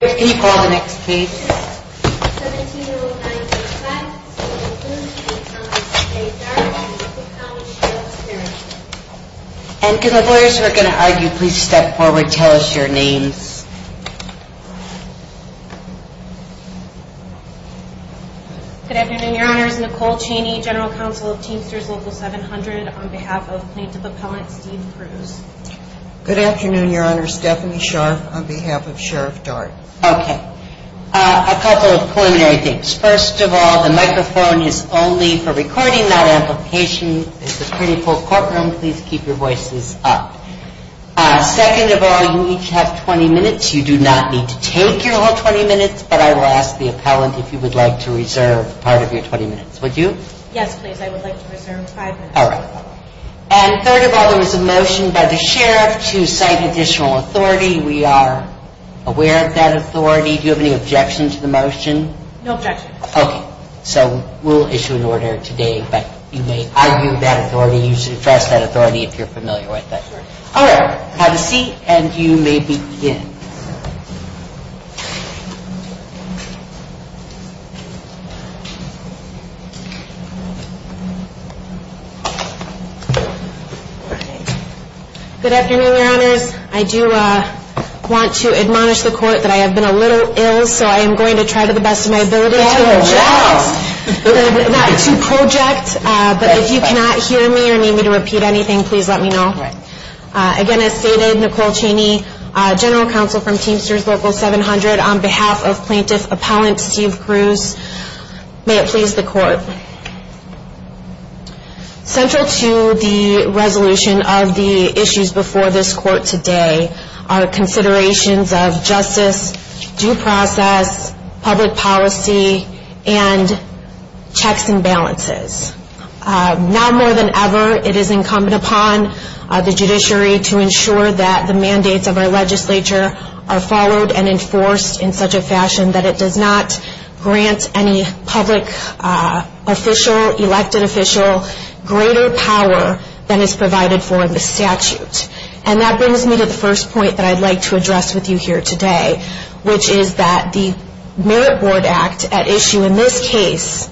Can you call the next case? 17-09-06, Stephanie Sharf on behalf of Sheriff Dart. And can the lawyers who are going to argue please step forward and tell us your names. Good afternoon, Your Honors. Nicole Chaney, General Counsel of Teamsters Local 700 on behalf of Plaintiff Appellant Steve Cruz. Good afternoon, Your Honors. Stephanie Sharf on behalf of Sheriff Dart. Okay. A couple of preliminary things. First of all, the microphone is only for recording, not amplification. This is a pretty full courtroom. Please keep your voices up. Second of all, you each have 20 minutes. You do not need to take your whole 20 minutes, but I will ask the appellant if you would like to reserve part of your 20 minutes. Would you? Yes, please. I would like to reserve five minutes. All right. And third of all, there was a motion by the sheriff to cite additional authority. We are aware of that authority. Do you have any objection to the motion? No objection. Okay. So we will issue an order today, but you may argue that authority. You should address that authority if you are familiar with it. All right. Have a seat and you may begin. Good afternoon, Your Honors. I do want to admonish the court that I have been a little ill, so I am going to try to the best of my ability to project, but if you cannot hear me or need me to repeat anything, please let me know. All right. Again, as stated, Nicole Chaney, General Counsel from Teamsters Local 700. On behalf of Plaintiff Appellant Steve Cruz, may it please the court. Central to the resolution of the issues before this court today are considerations of justice, due process, public policy, and checks and balances. Now more than ever, it is incumbent upon the judiciary to ensure that the mandates of our legislature are followed and enforced in such a fashion that it does not grant any public official, elected official, greater power than is provided for in the statute. And that brings me to the first point that I would like to address with you here today, which is that the Merit Board Act at issue in this case,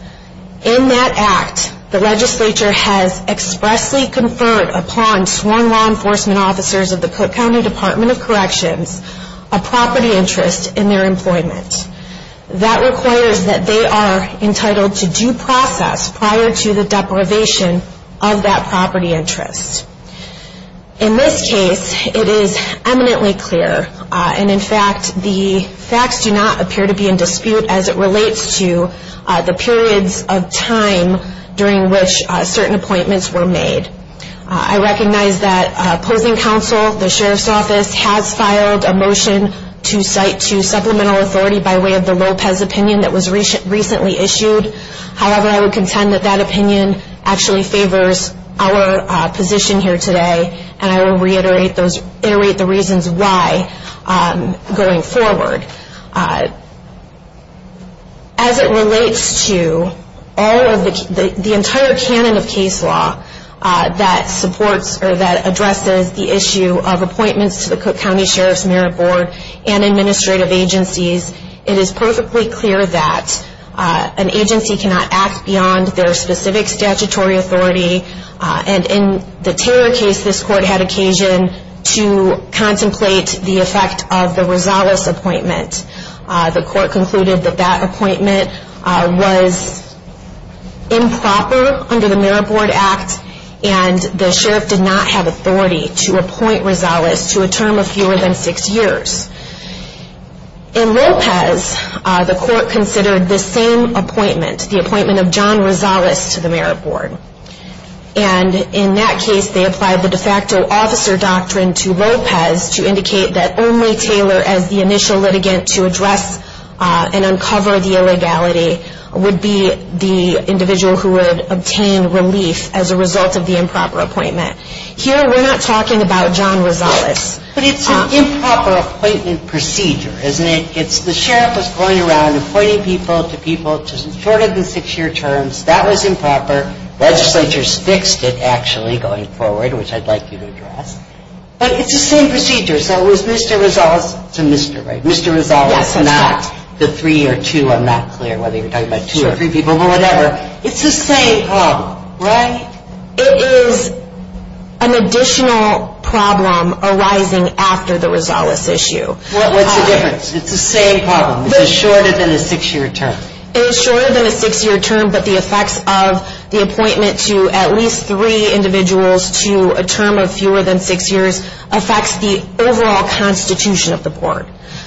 in that act, the legislature has expressly conferred upon sworn law enforcement officers of the Cook County Department of Corrections a property interest in their employment. That requires that they are entitled to due process prior to the deprivation of that property interest. In this case, it is eminently clear, and in fact, the facts do not appear to be in dispute as it relates to the periods of time during which certain appointments were made. I recognize that opposing counsel, the Sheriff's Office, has filed a motion to cite to supplemental authority by way of the Lopez opinion that was recently issued. However, I would contend that that opinion actually favors our position here today, and I will reiterate the reasons why going forward. As it relates to the entire canon of case law that supports or that addresses the issue of appointments to the Cook County Sheriff's Merit Board and administrative agencies, it is perfectly clear that an agency cannot act beyond their specific statutory authority, and in the Taylor case, this Court had occasion to contemplate the effect of the Rosales appointment. The Court concluded that that appointment was improper under the Merit Board Act, and the Sheriff did not have authority to appoint Rosales to a term of fewer than six years. In Lopez, the Court considered the same appointment, the appointment of John Rosales to the Merit Board, and in that case, they applied the de facto officer doctrine to Lopez to indicate that only Taylor as the initial litigant to address and uncover the illegality would be the individual who would obtain relief as a result of the improper appointment. Here, we're not talking about John Rosales. But it's an improper appointment procedure, isn't it? The Sheriff was going around appointing people to people shorter than six-year terms. That was improper. Legislature's fixed it, actually, going forward, which I'd like you to address. But it's the same procedure. So it was Mr. Rosales to Mr. Right. Mr. Rosales is not the three or two. I'm not clear whether you're talking about two or three people, but whatever. It's the same problem, right? It is an additional problem arising after the Rosales issue. What's the difference? It's the same problem. It's shorter than a six-year term. It is shorter than a six-year term, but the effects of the appointment to at least three individuals to a term of fewer than six years affects the overall constitution of the Board.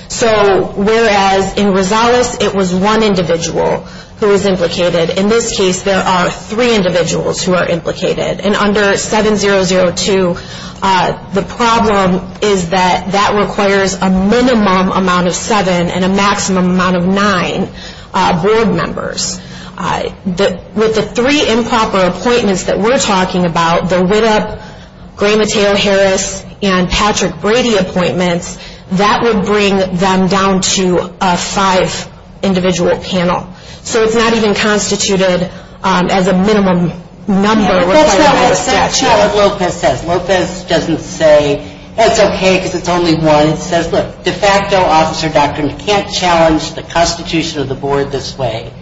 So whereas in Rosales, it was one individual who was implicated, in this case, there are three individuals who are implicated. And under 7002, the problem is that that requires a minimum amount of seven and a maximum amount of nine Board members. With the three improper appointments that we're talking about, the Widdop, Gray-Matteo-Harris, and Patrick Brady appointments, that would bring them down to a five-individual panel. So it's not even constituted as a minimum number required by the statute. That's not what Lopez says. Lopez doesn't say, it's okay because it's only one. It says, look, de facto officer doctrine can't challenge the constitution of the Board this way.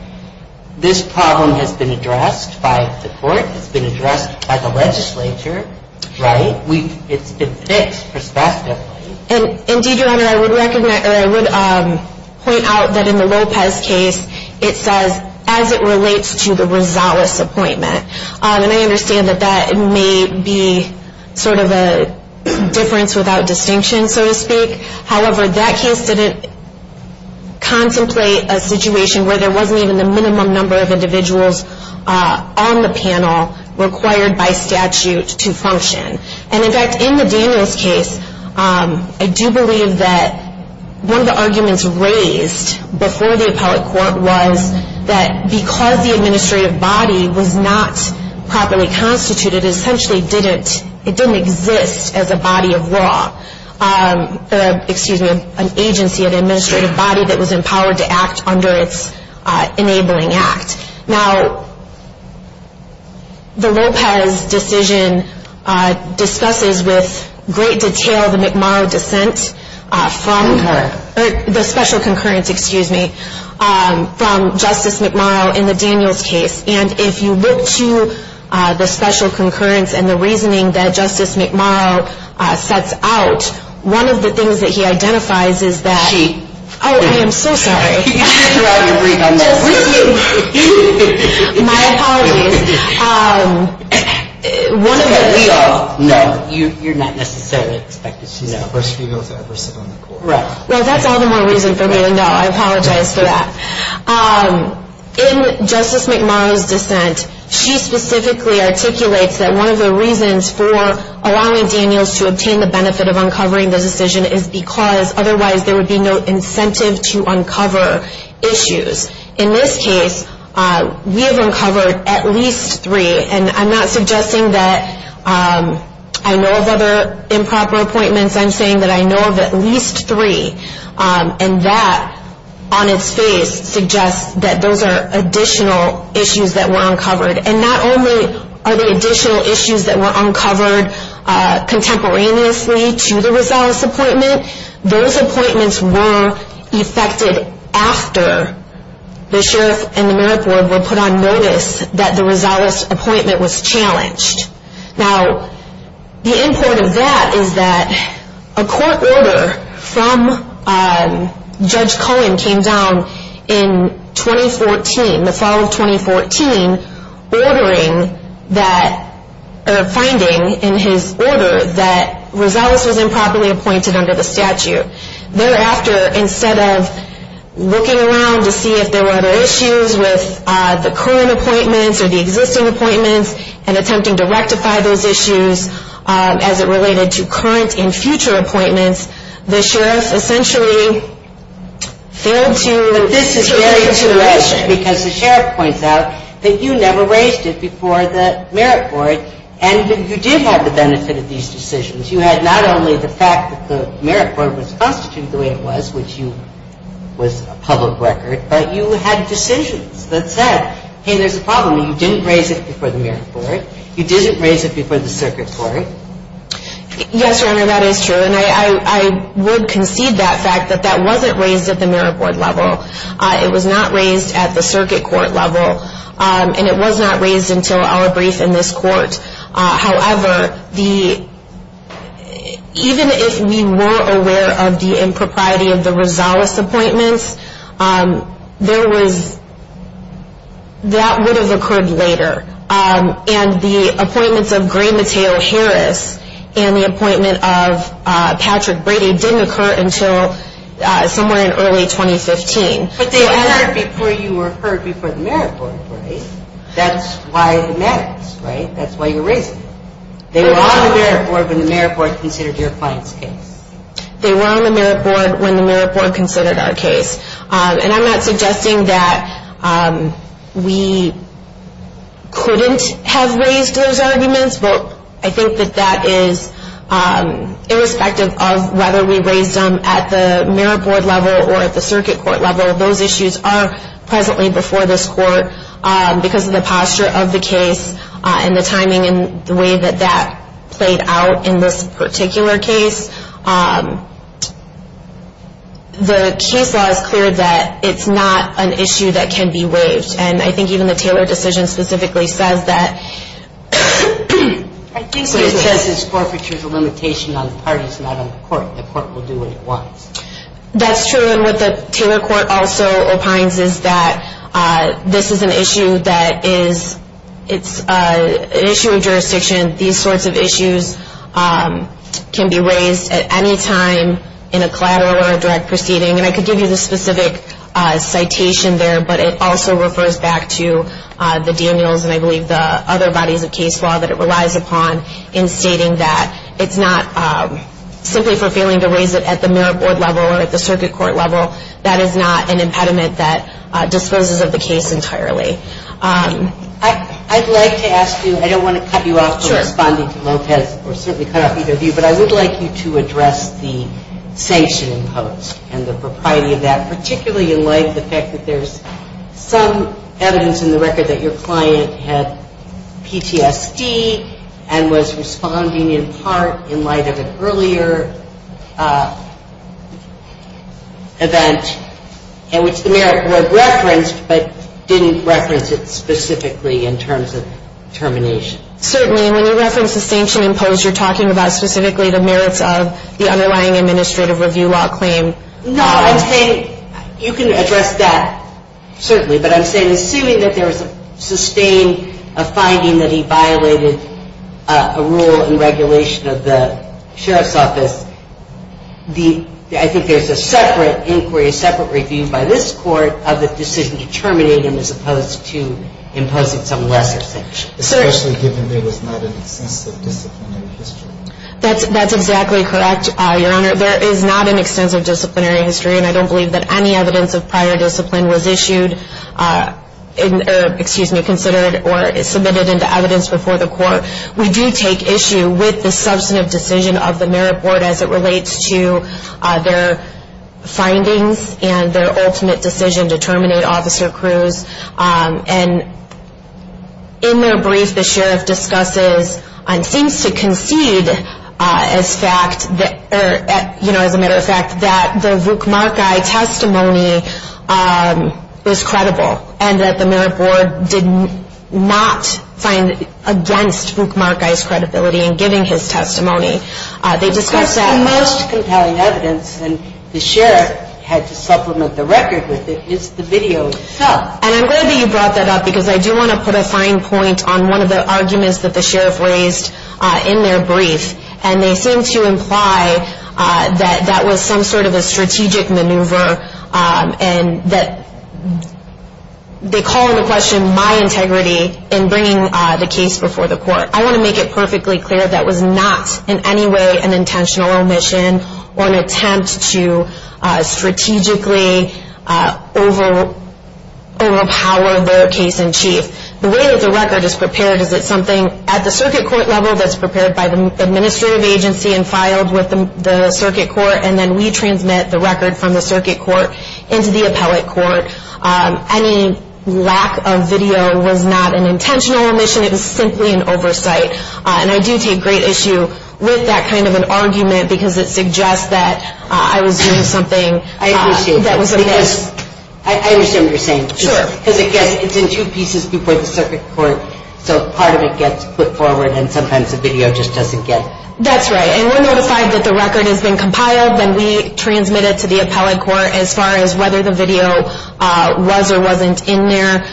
This problem has been addressed by the court. It's been addressed by the legislature, right? It's been fixed prospectively. Indeed, Your Honor, I would point out that in the Lopez case, it says as it relates to the Rosales appointment. And I understand that that may be sort of a difference without distinction, so to speak. However, that case didn't contemplate a situation where there wasn't even the minimum number of individuals on the panel required by statute to function. And, in fact, in the Daniels case, I do believe that one of the arguments raised before the appellate court was that because the administrative body was not properly constituted, it essentially didn't exist as a body of law. Excuse me, an agency, an administrative body that was empowered to act under its enabling act. Now, the Lopez decision discusses with great detail the McMurrow dissent from her, the special concurrence, excuse me, from Justice McMurrow in the Daniels case. And if you look to the special concurrence and the reasoning that Justice McMurrow sets out, one of the things that he identifies is that she, oh, I am so sorry. You just threw out your brief on that one. My apologies. One of the. We all know you're not necessarily expected. She's the first female to ever sit on the court. Right. Well, that's all the more reason for me to know. I apologize for that. In Justice McMurrow's dissent, she specifically articulates that one of the reasons for allowing Daniels to obtain the benefit of uncovering the decision is because otherwise there would be no incentive to uncover issues. In this case, we have uncovered at least three. And I'm not suggesting that I know of other improper appointments. I'm saying that I know of at least three. And that, on its face, suggests that those are additional issues that were uncovered. And not only are the additional issues that were uncovered contemporaneously to the Rosales appointment, those appointments were effected after the sheriff and the merit board were put on notice that the Rosales appointment was challenged. Now, the end point of that is that a court order from Judge Cohen came down in 2014, the fall of 2014, finding in his order that Rosales was improperly appointed under the statute. Thereafter, instead of looking around to see if there were other issues with the current appointments or the existing appointments and attempting to rectify those issues as it related to current and future appointments, the sheriff essentially failed to... But this is very intuitive because the sheriff points out that you never raised it before the merit board and that you did have the benefit of these decisions. You had not only the fact that the merit board was constituted the way it was, which was a public record, but you had decisions that said, hey, there's a problem. You didn't raise it before the merit board. You didn't raise it before the circuit court. Yes, Your Honor, that is true. And I would concede that fact that that wasn't raised at the merit board level. It was not raised at the circuit court level. And it was not raised until our brief in this court. However, even if we were aware of the impropriety of the Rosales appointments, that would have occurred later. And the appointments of Gray-Matteo Harris and the appointment of Patrick Brady didn't occur until somewhere in early 2015. But they occurred before you were heard before the merit board, right? That's why it matters, right? That's why you raised it. They were on the merit board when the merit board considered your client's case. They were on the merit board when the merit board considered our case. And I'm not suggesting that we couldn't have raised those arguments, but I think that that is irrespective of whether we raised them at the merit board level or at the circuit court level. Those issues are presently before this court because of the posture of the case and the timing and the way that that played out in this particular case. The case law is clear that it's not an issue that can be waived. And I think even the Taylor decision specifically says that. I think what it says is forfeiture is a limitation on the parties, not on the court. The court will do what it wants. That's true. And what the Taylor court also opines is that this is an issue that is an issue of jurisdiction. These sorts of issues can be raised at any time in a collateral or a direct proceeding. And I could give you the specific citation there, but it also refers back to the Daniels and I believe the other bodies of case law that it relies upon in stating that it's not simply for failing to raise it at the merit board level or at the circuit court level. That is not an impediment that disposes of the case entirely. I'd like to ask you, I don't want to cut you off from responding to Lopez or certainly cut off either of you, but I would like you to address the sanction imposed and the propriety of that, particularly in light of the fact that there's some evidence in the record that your client had PTSD and was responding in part in light of an earlier event in which the merit board referenced but didn't reference it specifically in terms of termination. Certainly. And when you reference the sanction imposed, you're talking about specifically the merits of the underlying administrative review law claim. No, I'm saying you can address that certainly, but I'm saying assuming that there was a sustained finding that he violated a rule and regulation of the sheriff's office, I think there's a separate inquiry, a separate review by this court of the decision to terminate him as opposed to imposing some lesser sanction. Especially given there was not an extensive disciplinary history. That's exactly correct, Your Honor. There is not an extensive disciplinary history and I don't believe that any evidence of prior discipline was issued, excuse me, considered or submitted into evidence before the court. We do take issue with the substantive decision of the merit board as it relates to their findings and their ultimate decision to terminate Officer Cruz. And in their brief, the sheriff discusses and seems to concede as a matter of fact that the Vuk Markay testimony was credible and that the merit board did not find against Vuk Markay's credibility in giving his testimony. Of course, the most compelling evidence, and the sheriff had to supplement the record with it, is the video itself. And I'm glad that you brought that up because I do want to put a fine point on one of the arguments that the sheriff raised in their brief. And they seem to imply that that was some sort of a strategic maneuver and that they call into question my integrity in bringing the case before the court. I want to make it perfectly clear that was not in any way an intentional omission or an attempt to strategically overpower the case in chief. The way that the record is prepared is it's something at the circuit court level that's prepared by the administrative agency and filed with the circuit court, and then we transmit the record from the circuit court into the appellate court. Any lack of video was not an intentional omission. It was simply an oversight. And I do take great issue with that kind of an argument because it suggests that I was doing something that was amiss. I understand what you're saying. Sure. Because it's in two pieces before the circuit court, so part of it gets put forward and sometimes the video just doesn't get put forward. That's right, and we're notified that the record has been compiled and we transmit it to the appellate court as far as whether the video was or wasn't in there.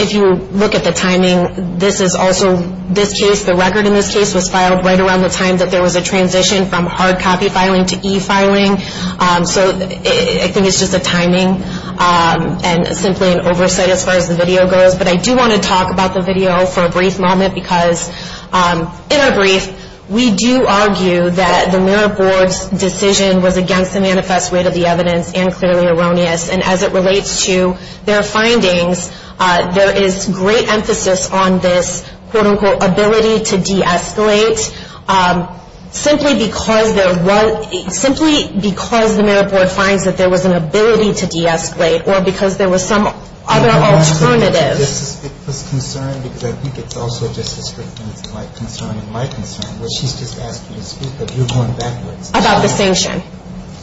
If you look at the timing, this is also this case, the record in this case was filed right around the time that there was a transition from hard copy filing to e-filing. So I think it's just the timing and simply an oversight as far as the video goes. But I do want to talk about the video for a brief moment because in our brief we do argue that the mirror board's decision was against the manifest rate of the evidence and clearly erroneous. And as it relates to their findings, there is great emphasis on this, quote-unquote, ability to de-escalate, simply because the mirror board finds that there was an ability to de-escalate or because there was some other alternative. It was concerned because I think it's also just a strict concern in my concern where she's just asked me to speak, but you're going backwards. About the sanction?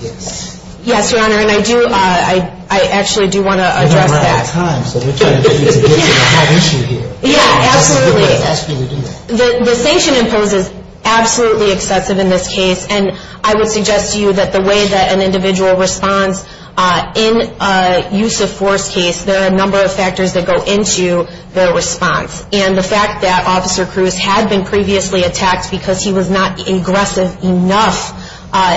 Yes. Yes, Your Honor, and I actually do want to address that. We're running out of time, so we're trying to get you to get to the hot issue here. Yeah, absolutely. The sanction imposed is absolutely excessive in this case, and I would suggest to you that the way that an individual responds in a use-of-force case, there are a number of factors that go into their response. And the fact that Officer Cruz had been previously attacked because he was not aggressive enough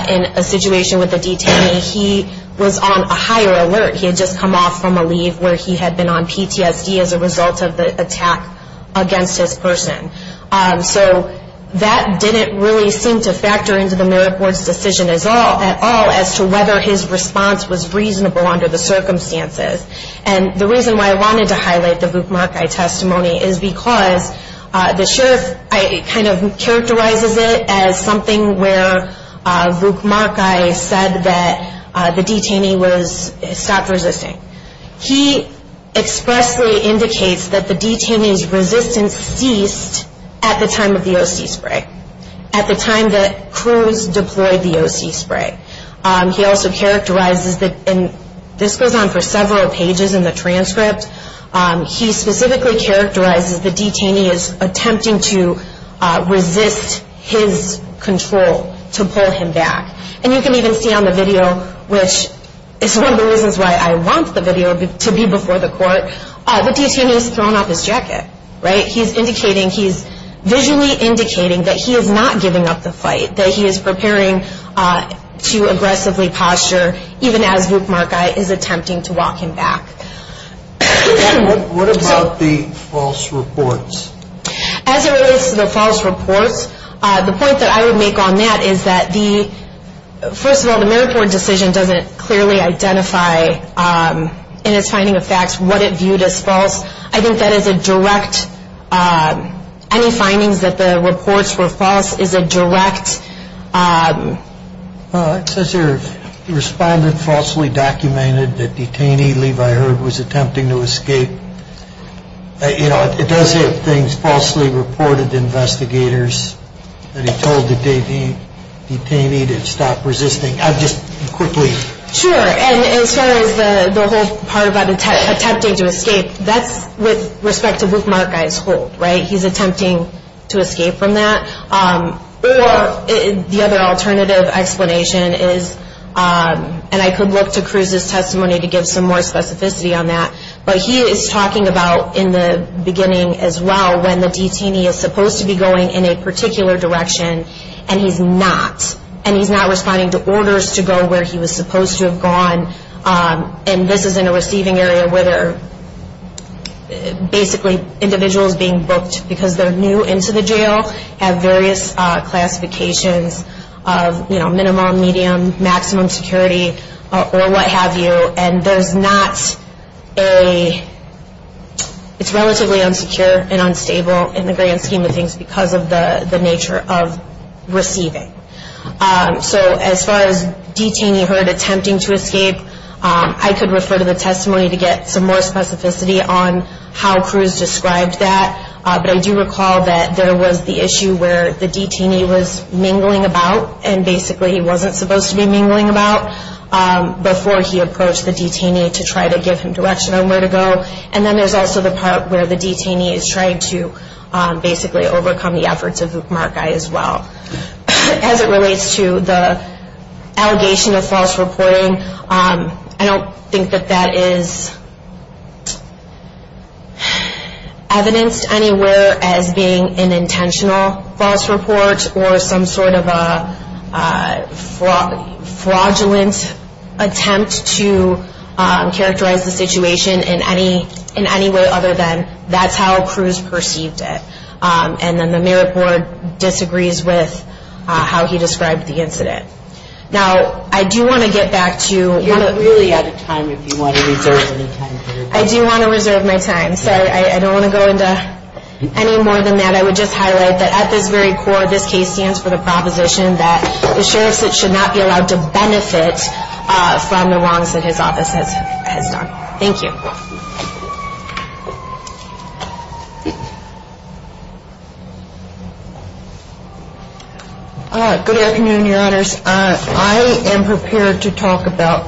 in a situation with a detainee, he was on a higher alert. He had just come off from a leave where he had been on PTSD as a result of the attack against his person. So that didn't really seem to factor into the mirror board's decision at all as to whether his response was reasonable under the circumstances. And the reason why I wanted to highlight the Vuk Markay testimony is because the sheriff kind of characterizes it as something where Vuk Markay said that the detainee was stopped resisting. He expressly indicates that the detainee's resistance ceased at the time of the OC spray, at the time that Cruz deployed the OC spray. He also characterizes that, and this goes on for several pages in the transcript, he specifically characterizes the detainee as attempting to resist his control to pull him back. And you can even see on the video, which is one of the reasons why I want the video to be before the court, the detainee is thrown off his jacket. He's visually indicating that he is not giving up the fight, that he is preparing to aggressively posture even as Vuk Markay is attempting to walk him back. What about the false reports? As it relates to the false reports, the point that I would make on that is that, first of all, the mirror board decision doesn't clearly identify in its finding of facts what it viewed as false. I think that is a direct, any findings that the reports were false is a direct... Well, it says here, the respondent falsely documented that detainee Levi Heard was attempting to escape. You know, it does have things falsely reported to investigators that he told the detainee to stop resisting. I'll just quickly... Sure, and as far as the whole part about attempting to escape, that's with respect to Vuk Markay's hold, right? He's attempting to escape from that. The other alternative explanation is, and I could look to Cruz's testimony to give some more specificity on that, but he is talking about in the beginning as well when the detainee is supposed to be going in a particular direction and he's not, and he's not responding to orders to go where he was supposed to have gone. And this is in a receiving area where there are basically individuals being booked because they're new into the jail, have various classifications of, you know, minimum, medium, maximum security, or what have you, and there's not a... It's relatively unsecure and unstable in the grand scheme of things because of the nature of receiving. So as far as detainee hurt attempting to escape, I could refer to the testimony to get some more specificity on how Cruz described that, but I do recall that there was the issue where the detainee was mingling about and basically he wasn't supposed to be mingling about before he approached the detainee to try to give him direction on where to go. And then there's also the part where the detainee is trying to basically overcome the efforts of Vuk Markay as well. As it relates to the allegation of false reporting, I don't think that that is evidenced anywhere as being an intentional false report or some sort of a fraudulent attempt to characterize the situation in any way other than that's how Cruz perceived it. And then the merit board disagrees with how he described the incident. Now, I do want to get back to... I do want to reserve my time. Sorry, I don't want to go into any more than that. I would just highlight that at this very core, this case stands for the proposition that the sheriff should not be allowed to benefit from the wrongs that his office has done. I don't want to go into any more than that. Thank you. Good afternoon, Your Honors. I am prepared to talk about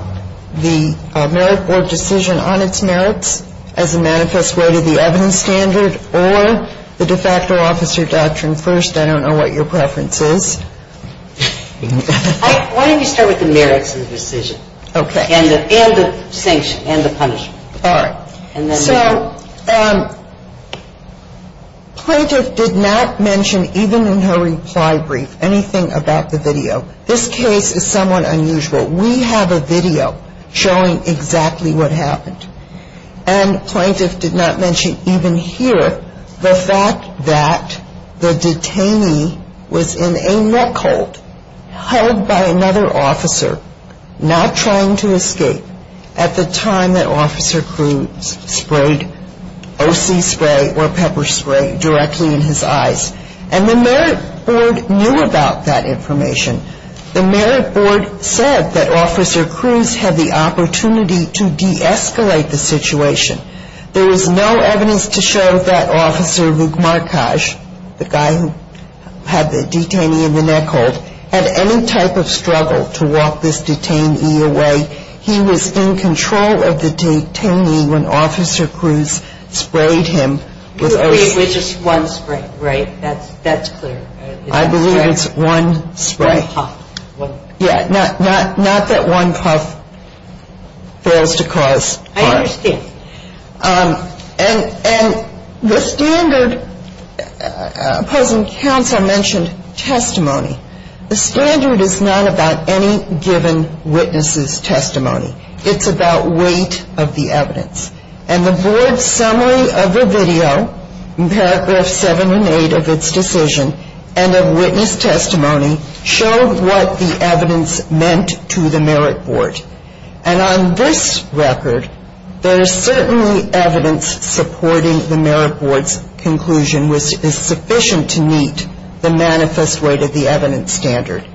the merit board decision on its merits as a manifest way to the evidence standard or the de facto officer doctrine first. I don't know what your preference is. Why don't you start with the merits of the decision and the sanction and the punishment. All right. So plaintiff did not mention even in her reply brief anything about the video. This case is somewhat unusual. We have a video showing exactly what happened. And plaintiff did not mention even here the fact that the detainee was in a neck hold held by another officer not trying to escape at the time that Officer Cruz sprayed O.C. spray or pepper spray directly in his eyes. And the merit board knew about that information. The merit board said that Officer Cruz had the opportunity to deescalate the situation. There is no evidence to show that Officer Lugmarkaj, the guy who had the detainee in the neck hold, had any type of struggle to walk this detainee away. He was in control of the detainee when Officer Cruz sprayed him with O.C. spray. It was just one spray, right? That's clear. I believe it's one spray. One puff. Yeah, not that one puff fails to cause harm. I understand. And the standard opposing counsel mentioned testimony. It's about weight of the evidence. And the board's summary of the video in paragraphs 7 and 8 of its decision and of witness testimony showed what the evidence meant to the merit board. And on this record, there is certainly evidence supporting the merit board's conclusion, which is sufficient to meet the manifest weight of the evidence standard.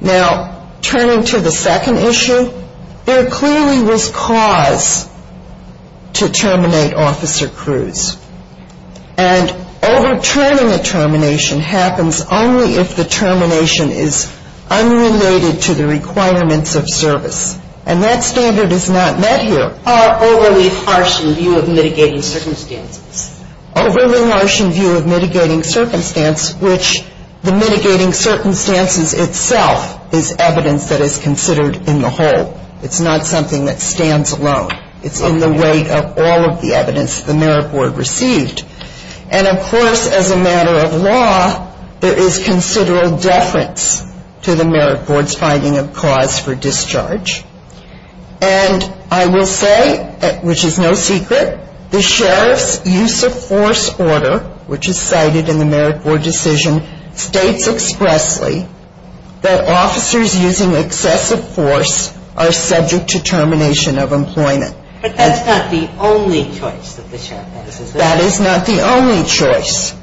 Now, turning to the second issue, there clearly was cause to terminate Officer Cruz. And overturning a termination happens only if the termination is unrelated to the requirements of service. And that standard is not met here. Overly harsh in view of mitigating circumstances. Overly harsh in view of mitigating circumstance, which the mitigating circumstances itself is evidence that is considered in the whole. It's not something that stands alone. It's in the weight of all of the evidence the merit board received. And, of course, as a matter of law, there is considerable deference to the merit board's finding of cause for discharge. And I will say, which is no secret, the sheriff's use of force order, which is cited in the merit board decision, states expressly that officers using excessive force are subject to termination of employment. But that's not the only choice that the sheriff has. That is not the only choice.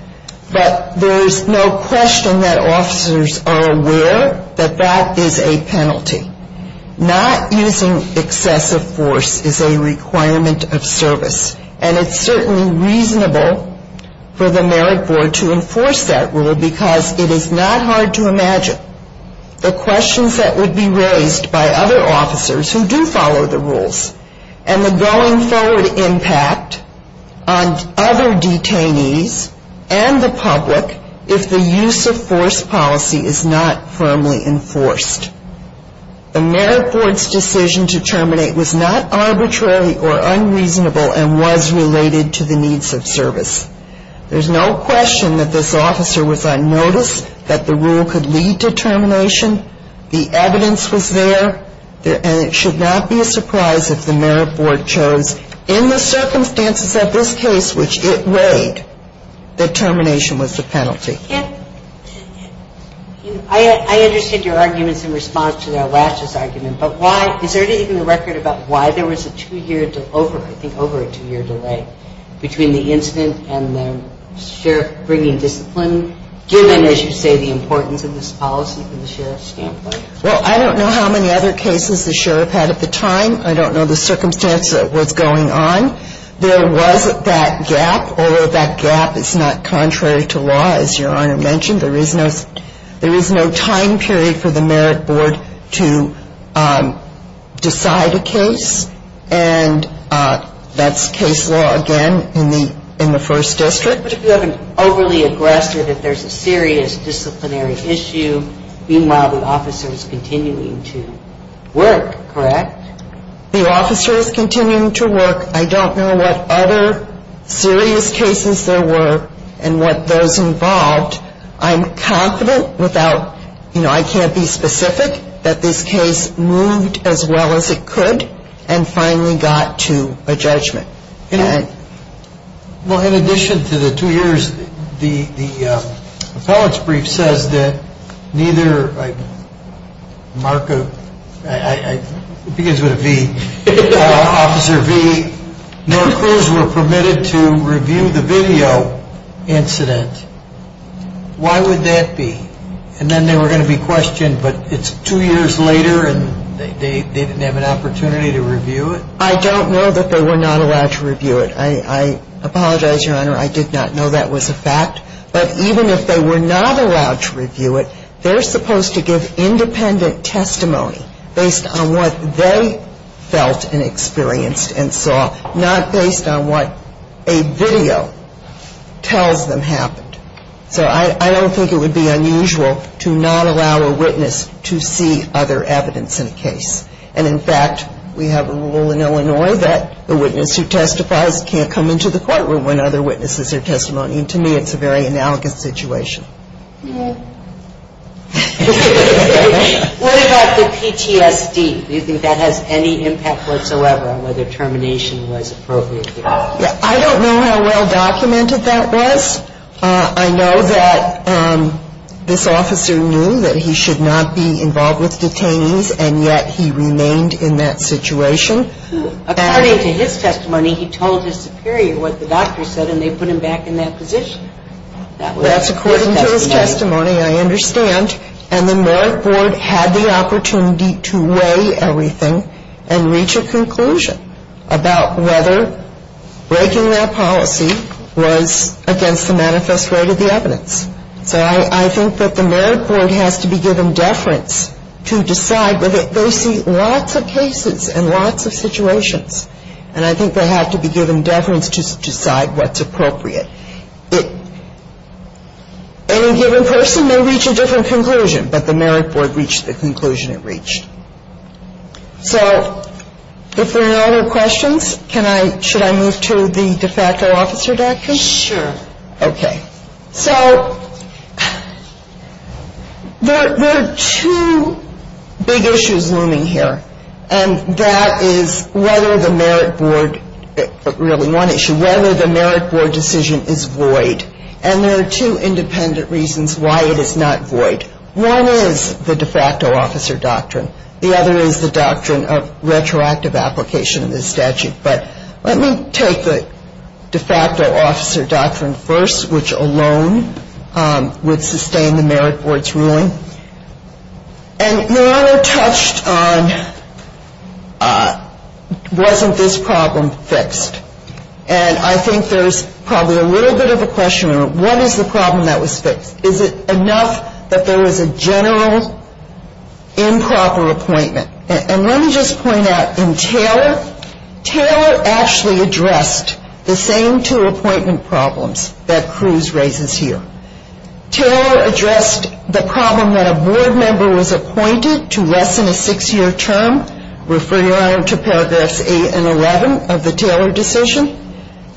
But there's no question that officers are aware that that is a penalty. Not using excessive force is a requirement of service. And it's certainly reasonable for the merit board to enforce that rule and the going forward impact on other detainees and the public if the use of force policy is not firmly enforced. The merit board's decision to terminate was not arbitrary or unreasonable and was related to the needs of service. There's no question that this officer was on notice that the rule could lead to termination. The evidence was there. And it should not be a surprise if the merit board chose in the circumstances of this case, which it weighed, that termination was the penalty. I understand your arguments in response to that last year's argument. But is there even a record about why there was a two-year, I think over a two-year delay between the incident and the sheriff bringing discipline, given, as you say, the importance of this policy from the sheriff's standpoint? Well, I don't know how many other cases the sheriff had at the time. I don't know the circumstance of what's going on. There was that gap, although that gap is not contrary to law, as Your Honor mentioned. There is no time period for the merit board to decide a case. And that's case law, again, in the first district. But if you have an overly aggressive, if there's a serious disciplinary issue, meanwhile the officer is continuing to work, correct? The officer is continuing to work. I don't know what other serious cases there were and what those involved. I'm confident without, you know, I can't be specific, that this case moved as well as it could and finally got to a judgment. Well, in addition to the two years, the appellate's brief says that neither Mark, it begins with a V, Officer V, nor crews were permitted to review the video incident. Why would that be? And then they were going to be questioned, but it's two years later and they didn't have an opportunity to review it? I don't know that they were not allowed to review it. I apologize, Your Honor, I did not know that was a fact. But even if they were not allowed to review it, they're supposed to give independent testimony based on what they felt and experienced and saw, not based on what a video tells them happened. So I don't think it would be unusual to not allow a witness to see other evidence in a case. And in fact, we have a rule in Illinois that the witness who testifies can't come into the courtroom when other witnesses are testimonying. To me, it's a very analogous situation. What about the PTSD? Do you think that has any impact whatsoever on whether termination was appropriate? I don't know how well documented that was. I know that this officer knew that he should not be involved with detainees and yet he remained in that situation. According to his testimony, he told his superior what the doctor said and they put him back in that position. That's according to his testimony, I understand. And the merit board had the opportunity to weigh everything and reach a conclusion about whether breaking that policy was against the manifest rate of the evidence. So I think that the merit board has to be given deference to decide whether And I think they have to be given deference to decide what's appropriate. Any given person may reach a different conclusion, but the merit board reached the conclusion it reached. So if there are no other questions, should I move to the de facto officer document? Sure. Okay. So there are two big issues looming here, and that is whether the merit board decision is void. And there are two independent reasons why it is not void. One is the de facto officer doctrine. The other is the doctrine of retroactive application of this statute. But let me take the de facto officer doctrine first, which alone would sustain the merit board's ruling. And Your Honor touched on wasn't this problem fixed. And I think there's probably a little bit of a question. What is the problem that was fixed? Is it enough that there was a general improper appointment? And let me just point out in Taylor, Taylor actually addressed the same two appointment problems that Cruz raises here. Taylor addressed the problem that a board member was appointed to less than a six-year term, referring Your Honor to paragraphs 8 and 11 of the Taylor decision.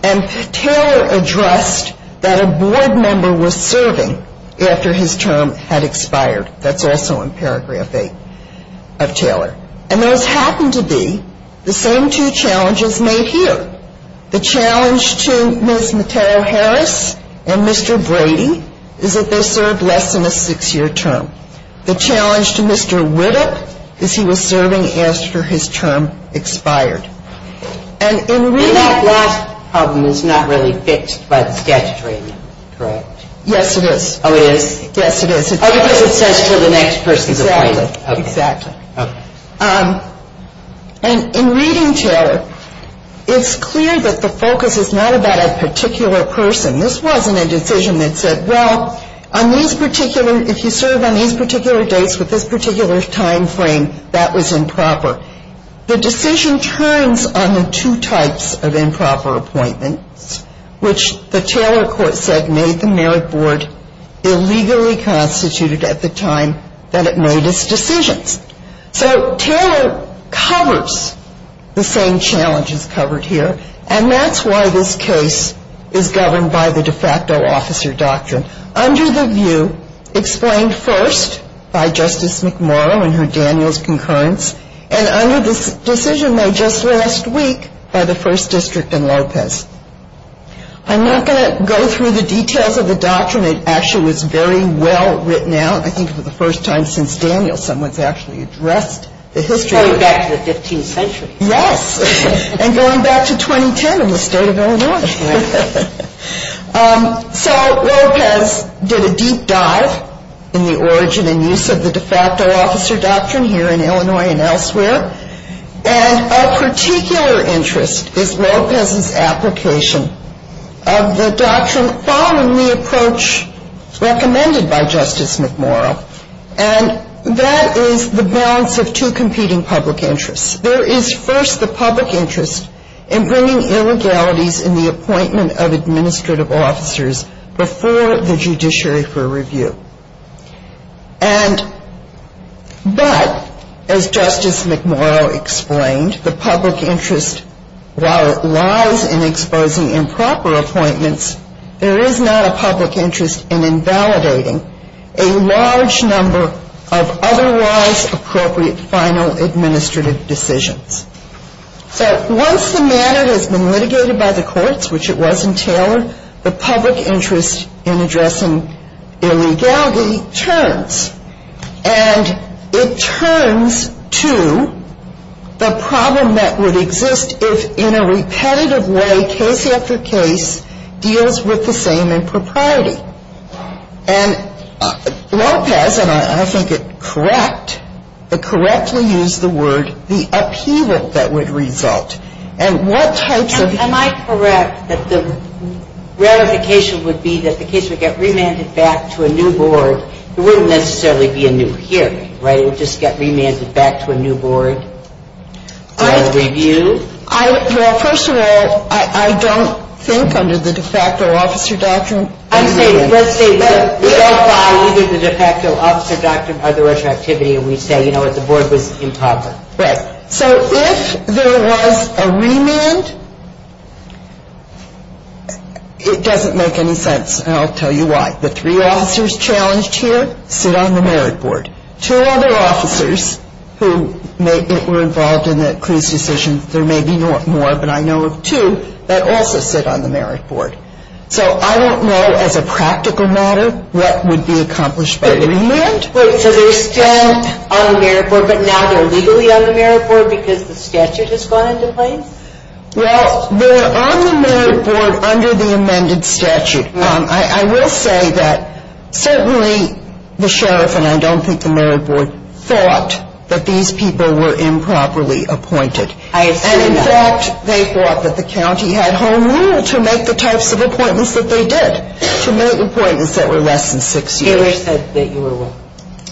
And Taylor addressed that a board member was serving after his term had expired. That's also in paragraph 8 of Taylor. And those happen to be the same two challenges made here. The challenge to Ms. Mateo Harris and Mr. Brady is that they served less than a six-year term. The challenge to Mr. Whittock is he was serving after his term expired. And in reading that last problem is not really fixed by the statutory amendment, correct? Yes, it is. Oh, it is? Yes, it is. Oh, because it says until the next person's appointed. Exactly. Okay. And in reading, Taylor, it's clear that the focus is not about a particular person. This wasn't a decision that said, well, on these particular, if you serve on these particular dates with this particular time frame, that was improper. The decision turns on the two types of improper appointments, which the Taylor court said made the merit board illegally constituted at the time that it made its decisions. So Taylor covers the same challenges covered here, and that's why this case is governed by the de facto officer doctrine, under the view explained first by Justice McMurrow in her Daniels concurrence, and under this decision made just last week by the first district in Lopez. I'm not going to go through the details of the doctrine. It actually was very well written out, I think, for the first time since Daniels. Someone's actually addressed the history. Going back to the 15th century. Yes. And going back to 2010 in the state of Illinois. So Lopez did a deep dive in the origin and use of the de facto officer doctrine here in Illinois and elsewhere, and of particular interest is Lopez's application of the doctrine following the approach recommended by Justice McMurrow, and that is the balance of two competing public interests. There is first the public interest in bringing illegalities in the appointment of administrative officers before the judiciary for review. And but, as Justice McMurrow explained, the public interest, while it lies in exposing improper appointments, there is not a public interest in invalidating a large number of otherwise appropriate final administrative decisions. So once the matter has been litigated by the courts, which it was in Taylor, the public interest in addressing illegality turns, And it turns to the problem that would exist if, in a repetitive way, case after case, deals with the same impropriety. And Lopez, and I think it correct, but correctly used the word, the upheaval that would result. And what types of — Am I correct that the ratification would be that the case would get remanded back to a new board? It wouldn't necessarily be a new hearing, right? It would just get remanded back to a new board for review? Well, first of all, I don't think under the de facto officer doctrine — I'm saying, let's say we don't follow either the de facto officer doctrine or the retroactivity, and we say, you know what, the board was improper. Right. So if there was a remand, it doesn't make any sense, and I'll tell you why. The three officers challenged here sit on the merit board. Two other officers who were involved in the Cruz decision, there may be more, but I know of two that also sit on the merit board. So I don't know, as a practical matter, what would be accomplished by remand. Wait, so they're still on the merit board, but now they're legally on the merit board because the statute has gone into place? Well, they're on the merit board under the amended statute. Right. I will say that certainly the sheriff, and I don't think the merit board, thought that these people were improperly appointed. I have seen that. And in fact, they thought that the county had home rule to make the types of appointments that they did, to make appointments that were less than six years. Taylor said that you were wrong.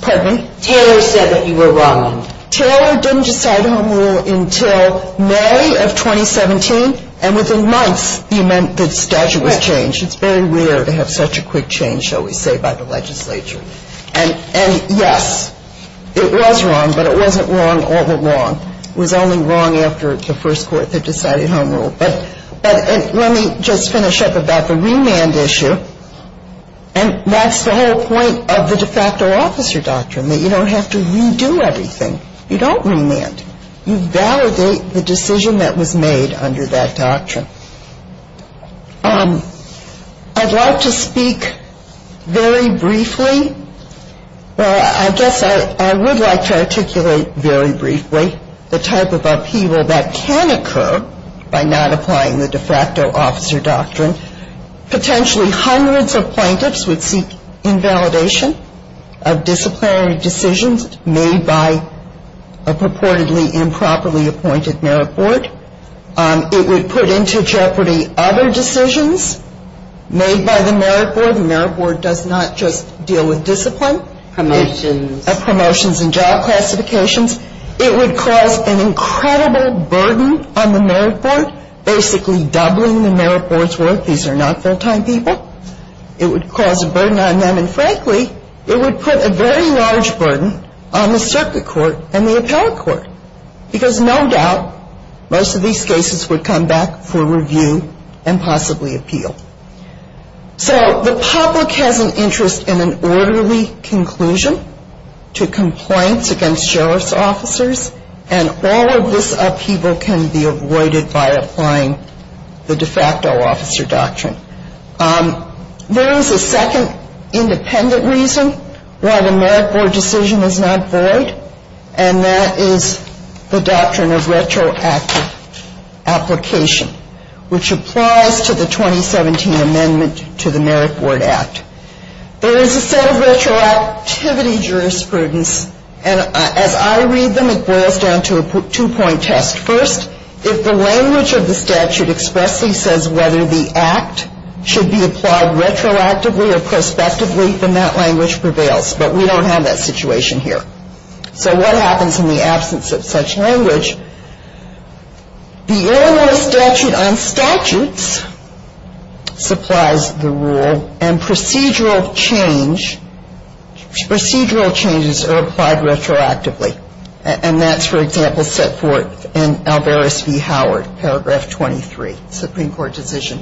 Pardon me? Taylor said that you were wrong. Taylor didn't decide home rule until May of 2017, and within months, the statute was changed. It's very rare to have such a quick change, shall we say, by the legislature. And yes, it was wrong, but it wasn't wrong all along. It was only wrong after the first court had decided home rule. But let me just finish up about the remand issue, and that's the whole point of the de facto officer doctrine, that you don't have to redo everything. You don't remand. You validate the decision that was made under that doctrine. I'd like to speak very briefly. Well, I guess I would like to articulate very briefly the type of upheaval that can occur by not applying the de facto officer doctrine. Potentially hundreds of plaintiffs would seek invalidation of disciplinary decisions made by a purportedly improperly appointed merit board. It would put into jeopardy other decisions made by the merit board. The merit board does not just deal with discipline. Promotions. Promotions and job classifications. It would cause an incredible burden on the merit board, basically doubling the merit board's worth. These are not full-time people. It would cause a burden on them, and frankly, it would put a very large burden on the circuit court and the appellate court, because no doubt most of these cases would come back for review and possibly appeal. So the public has an interest in an orderly conclusion to complaints against sheriff's officers, and all of this upheaval can be avoided by applying the de facto officer doctrine. There is a second independent reason why the merit board decision is not void, and that is the doctrine of retroactive application, which applies to the 2017 amendment to the Merit Board Act. There is a set of retroactivity jurisprudence, and as I read them, it boils down to a two-point test. First, if the language of the statute expressly says whether the act should be applied retroactively or prospectively, then that language prevails, but we don't have that situation here. So what happens in the absence of such language? The Illinois statute on statutes supplies the rule, and procedural changes are applied retroactively, and that's, for example, set forth in Alvarez v. Howard, paragraph 23, Supreme Court decision.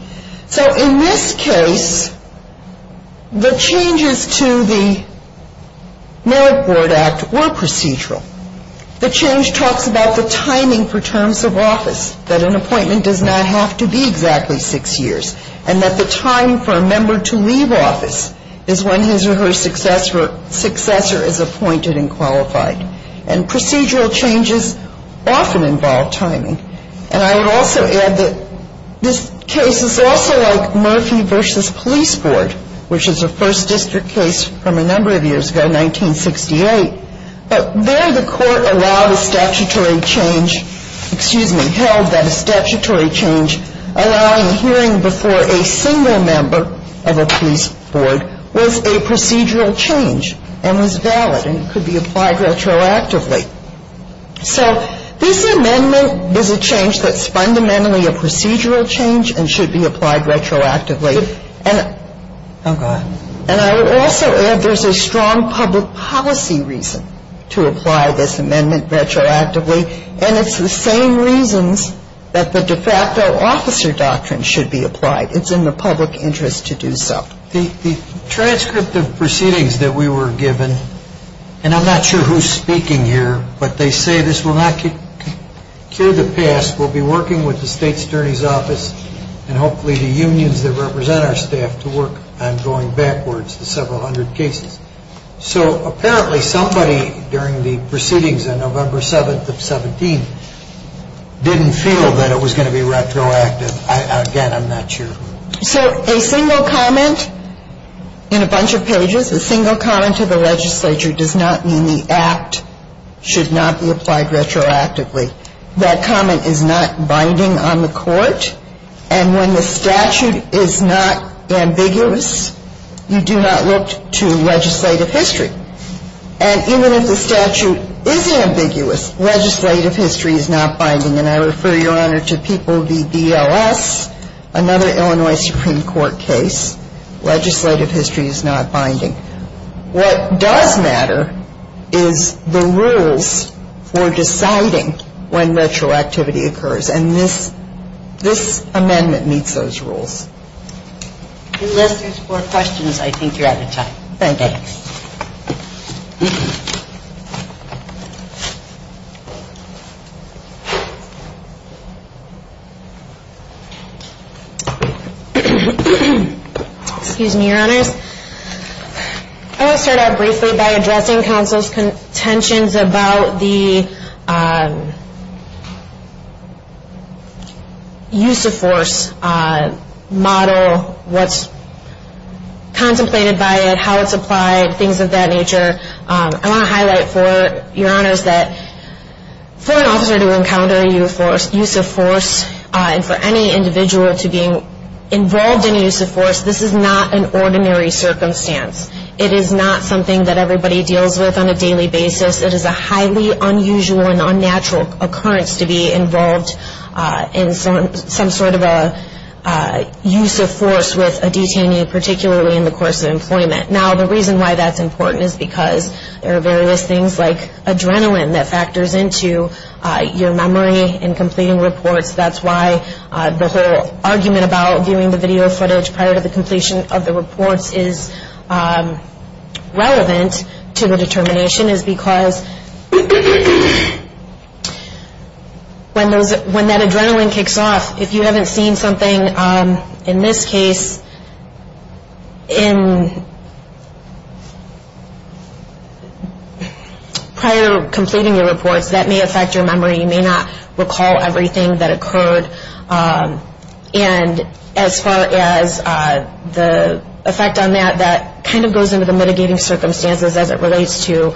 So in this case, the changes to the Merit Board Act were procedural. The change talks about the timing for terms of office, that an appointment does not have to be exactly six years, and that the time for a member to leave office is when his or her successor is appointed and qualified. And procedural changes often involve timing. And I would also add that this case is also like Murphy v. Police Board, which is a First District case from a number of years ago, 1968. But there the court allowed a statutory change, excuse me, held that a statutory change allowing a hearing before a single member of a police board was a procedural change and was valid and could be applied retroactively. So this amendment is a change that's fundamentally a procedural change and should be applied retroactively. And I would also add there's a strong public policy reason to apply this amendment retroactively, and it's the same reasons that the de facto officer doctrine should be applied. It's in the public interest to do so. The transcript of proceedings that we were given, and I'm not sure who's speaking here, but they say this will not cure the past. We'll be working with the state attorney's office and hopefully the unions that represent our staff to work on going backwards to several hundred cases. So apparently somebody during the proceedings on November 7th of 17 didn't feel that it was going to be retroactive. Again, I'm not sure. So a single comment in a bunch of pages, a single comment to the legislature, does not mean the act should not be applied retroactively. That comment is not binding on the court. And when the statute is not ambiguous, you do not look to legislative history. And even if the statute is ambiguous, legislative history is not binding. And I refer, Your Honor, to People v. BLS, another Illinois Supreme Court case. Legislative history is not binding. What does matter is the rules for deciding when retroactivity occurs. And this amendment meets those rules. Unless there's more questions, I think you're out of time. Thank you. Excuse me, Your Honors. I want to start out briefly by addressing counsel's contentions about the use of force model, what's contemplated by it, how it's applied, things of that nature. I want to highlight for Your Honors that for an officer to encounter use of force and for any individual to be involved in use of force, this is not an ordinary circumstance. It is not something that everybody deals with on a daily basis. It is a highly unusual and unnatural occurrence to be involved in some sort of a use of force with a detainee, particularly in the course of employment. Now, the reason why that's important is because there are various things like adrenaline that factors into your memory in completing reports. That's why the whole argument about viewing the video footage prior to the completion of the reports is relevant to the determination is because when that adrenaline kicks off, if you haven't seen something, in this case, prior to completing your reports, that may affect your memory. You may not recall everything that occurred, and as far as the effect on that, that kind of goes into the mitigating circumstances as it relates to,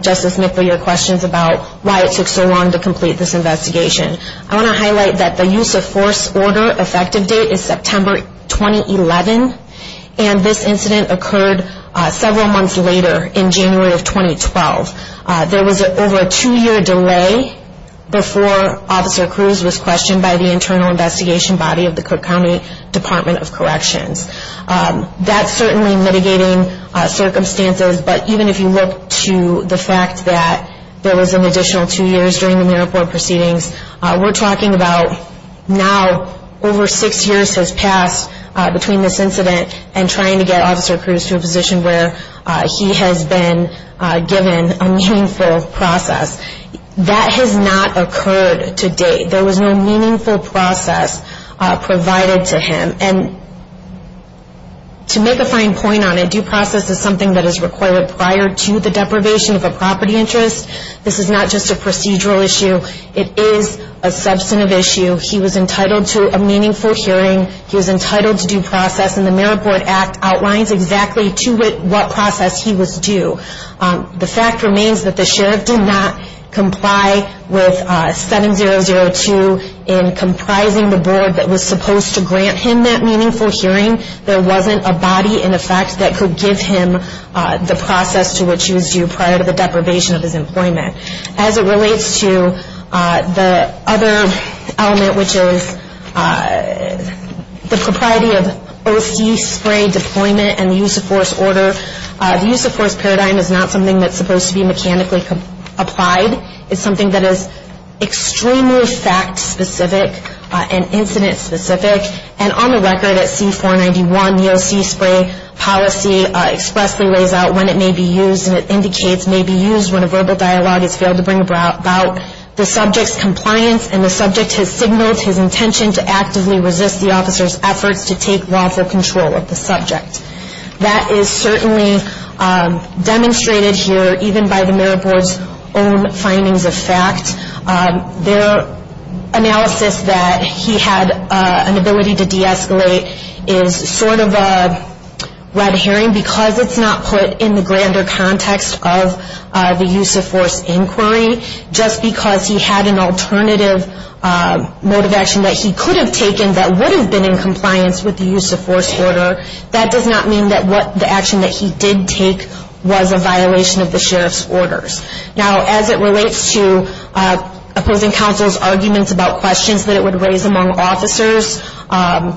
Justice Nickler, your questions about why it took so long to complete this investigation. I want to highlight that the use of force order effective date is September 2011, and this incident occurred several months later in January of 2012. There was over a two-year delay before Officer Cruz was questioned by the internal investigation body of the Cook County Department of Corrections. That's certainly mitigating circumstances, but even if you look to the fact that there was an additional two years during the merit board proceedings, we're talking about now over six years has passed between this incident and trying to get Officer Cruz to a position where he has been given a meaningful process. That has not occurred to date. There was no meaningful process provided to him, and to make a fine point on it, due process is something that is required prior to the deprivation of a property interest. This is not just a procedural issue. It is a substantive issue. He was entitled to a meaningful hearing. He was entitled to due process, and the Merit Board Act outlines exactly to what process he was due. The fact remains that the sheriff did not comply with 7002 in comprising the board that was supposed to grant him that meaningful hearing. There wasn't a body in effect that could give him the process to which he was due prior to the deprivation of his employment. As it relates to the other element, which is the propriety of OC spray deployment and the use of force order, the use of force paradigm is not something that's supposed to be mechanically applied. It's something that is extremely fact specific and incident specific, and on the record at C-491, the OC spray policy expressly lays out when it may be used, and it indicates may be used when a verbal dialogue is failed to bring about the subject's compliance and the subject has signaled his intention to actively resist the officer's efforts to take lawful control of the subject. That is certainly demonstrated here even by the Merit Board's own findings of fact. Their analysis that he had an ability to de-escalate is sort of a red herring because it's not put in the grander context of the use of force inquiry. Just because he had an alternative mode of action that he could have taken that would have been in compliance with the use of force order, that does not mean that the action that he did take was a violation of the sheriff's orders. Now as it relates to opposing counsel's arguments about questions that it would raise among officers, I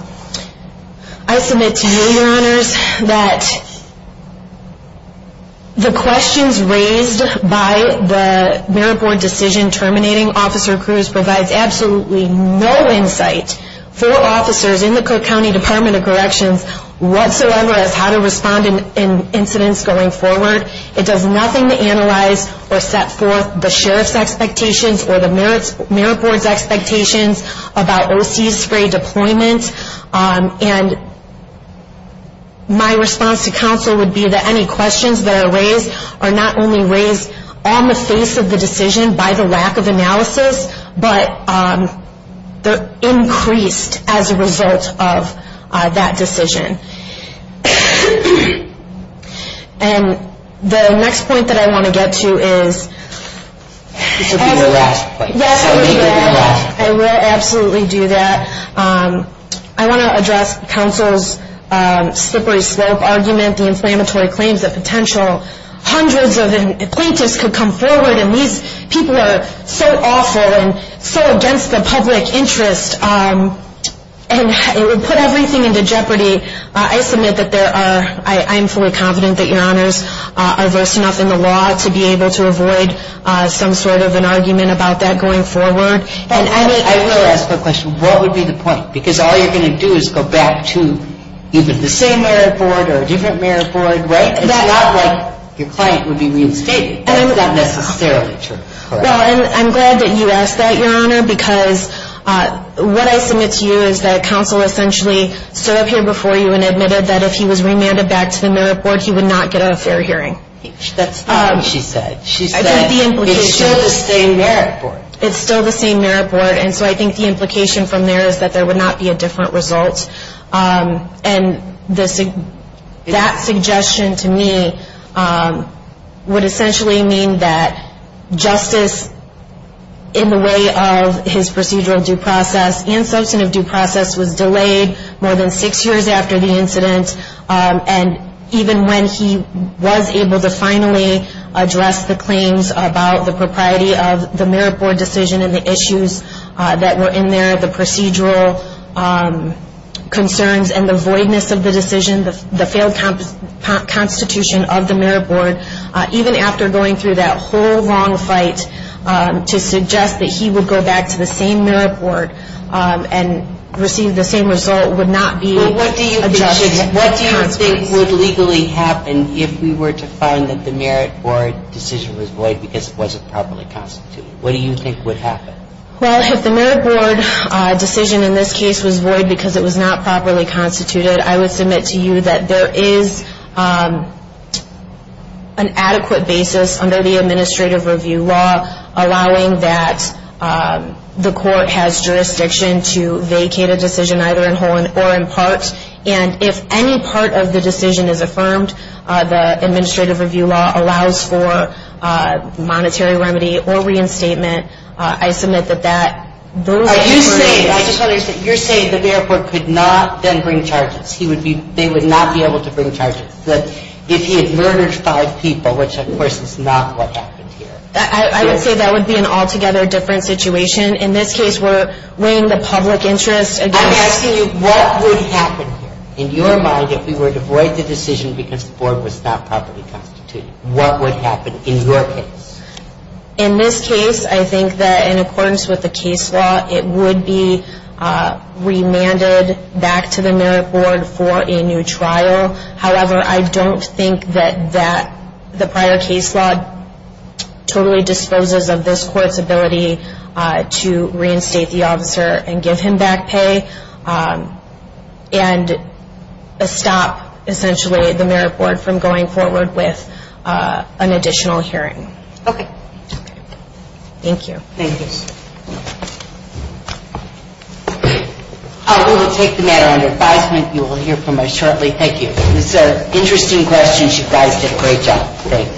submit to you, your honors, that the questions raised by the Merit Board decision terminating officer Cruz provides absolutely no insight for officers in the Cook County Department of Corrections whatsoever as how to respond in incidents going forward. It does nothing to analyze or set forth the sheriff's expectations or the Merit Board's expectations about OC spray deployment. And my response to counsel would be that any questions that are raised are not only raised on the face of the decision by the lack of analysis, but they're increased as a result of that decision. And the next point that I want to get to is... I absolutely do that. I want to address counsel's slippery slope argument, the inflammatory claims, the potential hundreds of the plaintiffs could come forward, and these people are so awful and so against the public interest, and it would put everything into jeopardy. I submit that there are... I am fully confident that your honors are versed enough in the law to be able to avoid some sort of an argument about that going forward. And I will ask a question. What would be the point? Because all you're going to do is go back to even the same Merit Board or a different Merit Board, right? It's not like your client would be reinstated. And I'm not necessarily sure. Well, and I'm glad that you asked that, your honor, because what I submit to you is that counsel essentially stood up here before you and admitted that if he was remanded back to the Merit Board, he would not get a fair hearing. That's not what she said. She said... I think the implication... It's still the same Merit Board. It's still the same Merit Board. And so I think the implication from there is that there would not be a different result. And that suggestion to me would essentially mean that justice in the way of his procedural due process and substantive due process was delayed more than six years after the incident. And even when he was able to finally address the claims about the propriety of the Merit Board decision and the issues that were in there, the procedural concerns and the voidness of the decision, the failed constitution of the Merit Board, even after going through that whole long fight to suggest that he would go back to the same Merit Board and receive the same result would not be... So what do you think would legally happen if we were to find that the Merit Board decision was void because it wasn't properly constituted? What do you think would happen? Well, if the Merit Board decision in this case was void because it was not properly constituted, I would submit to you that there is an adequate basis under the administrative review law allowing that the court has jurisdiction to vacate a decision either in whole or in part. And if any part of the decision is affirmed, the administrative review law allows for monetary remedy or reinstatement. I submit that that... Are you saying, I just want to say, you're saying that the Merit Board could not then bring charges. He would be, they would not be able to bring charges. If he had murdered five people, which of course is not what happened here. I would say that would be an altogether different situation. In this case, we're weighing the public interest against... I'm asking you, what would happen here? In your mind, if we were to void the decision because the board was not properly constituted, what would happen in your case? In this case, I think that in accordance with the case law, it would be remanded back to the Merit Board for a new trial. However, I don't think that the prior case law totally disposes of this court's ability to reinstate the officer and give him back pay and stop essentially the Merit Board from going forward with an additional hearing. Okay. Thank you. Thank you. We will take the matter under advisement. You will hear from us shortly. Thank you. These are interesting questions. You guys did a great job. Thanks.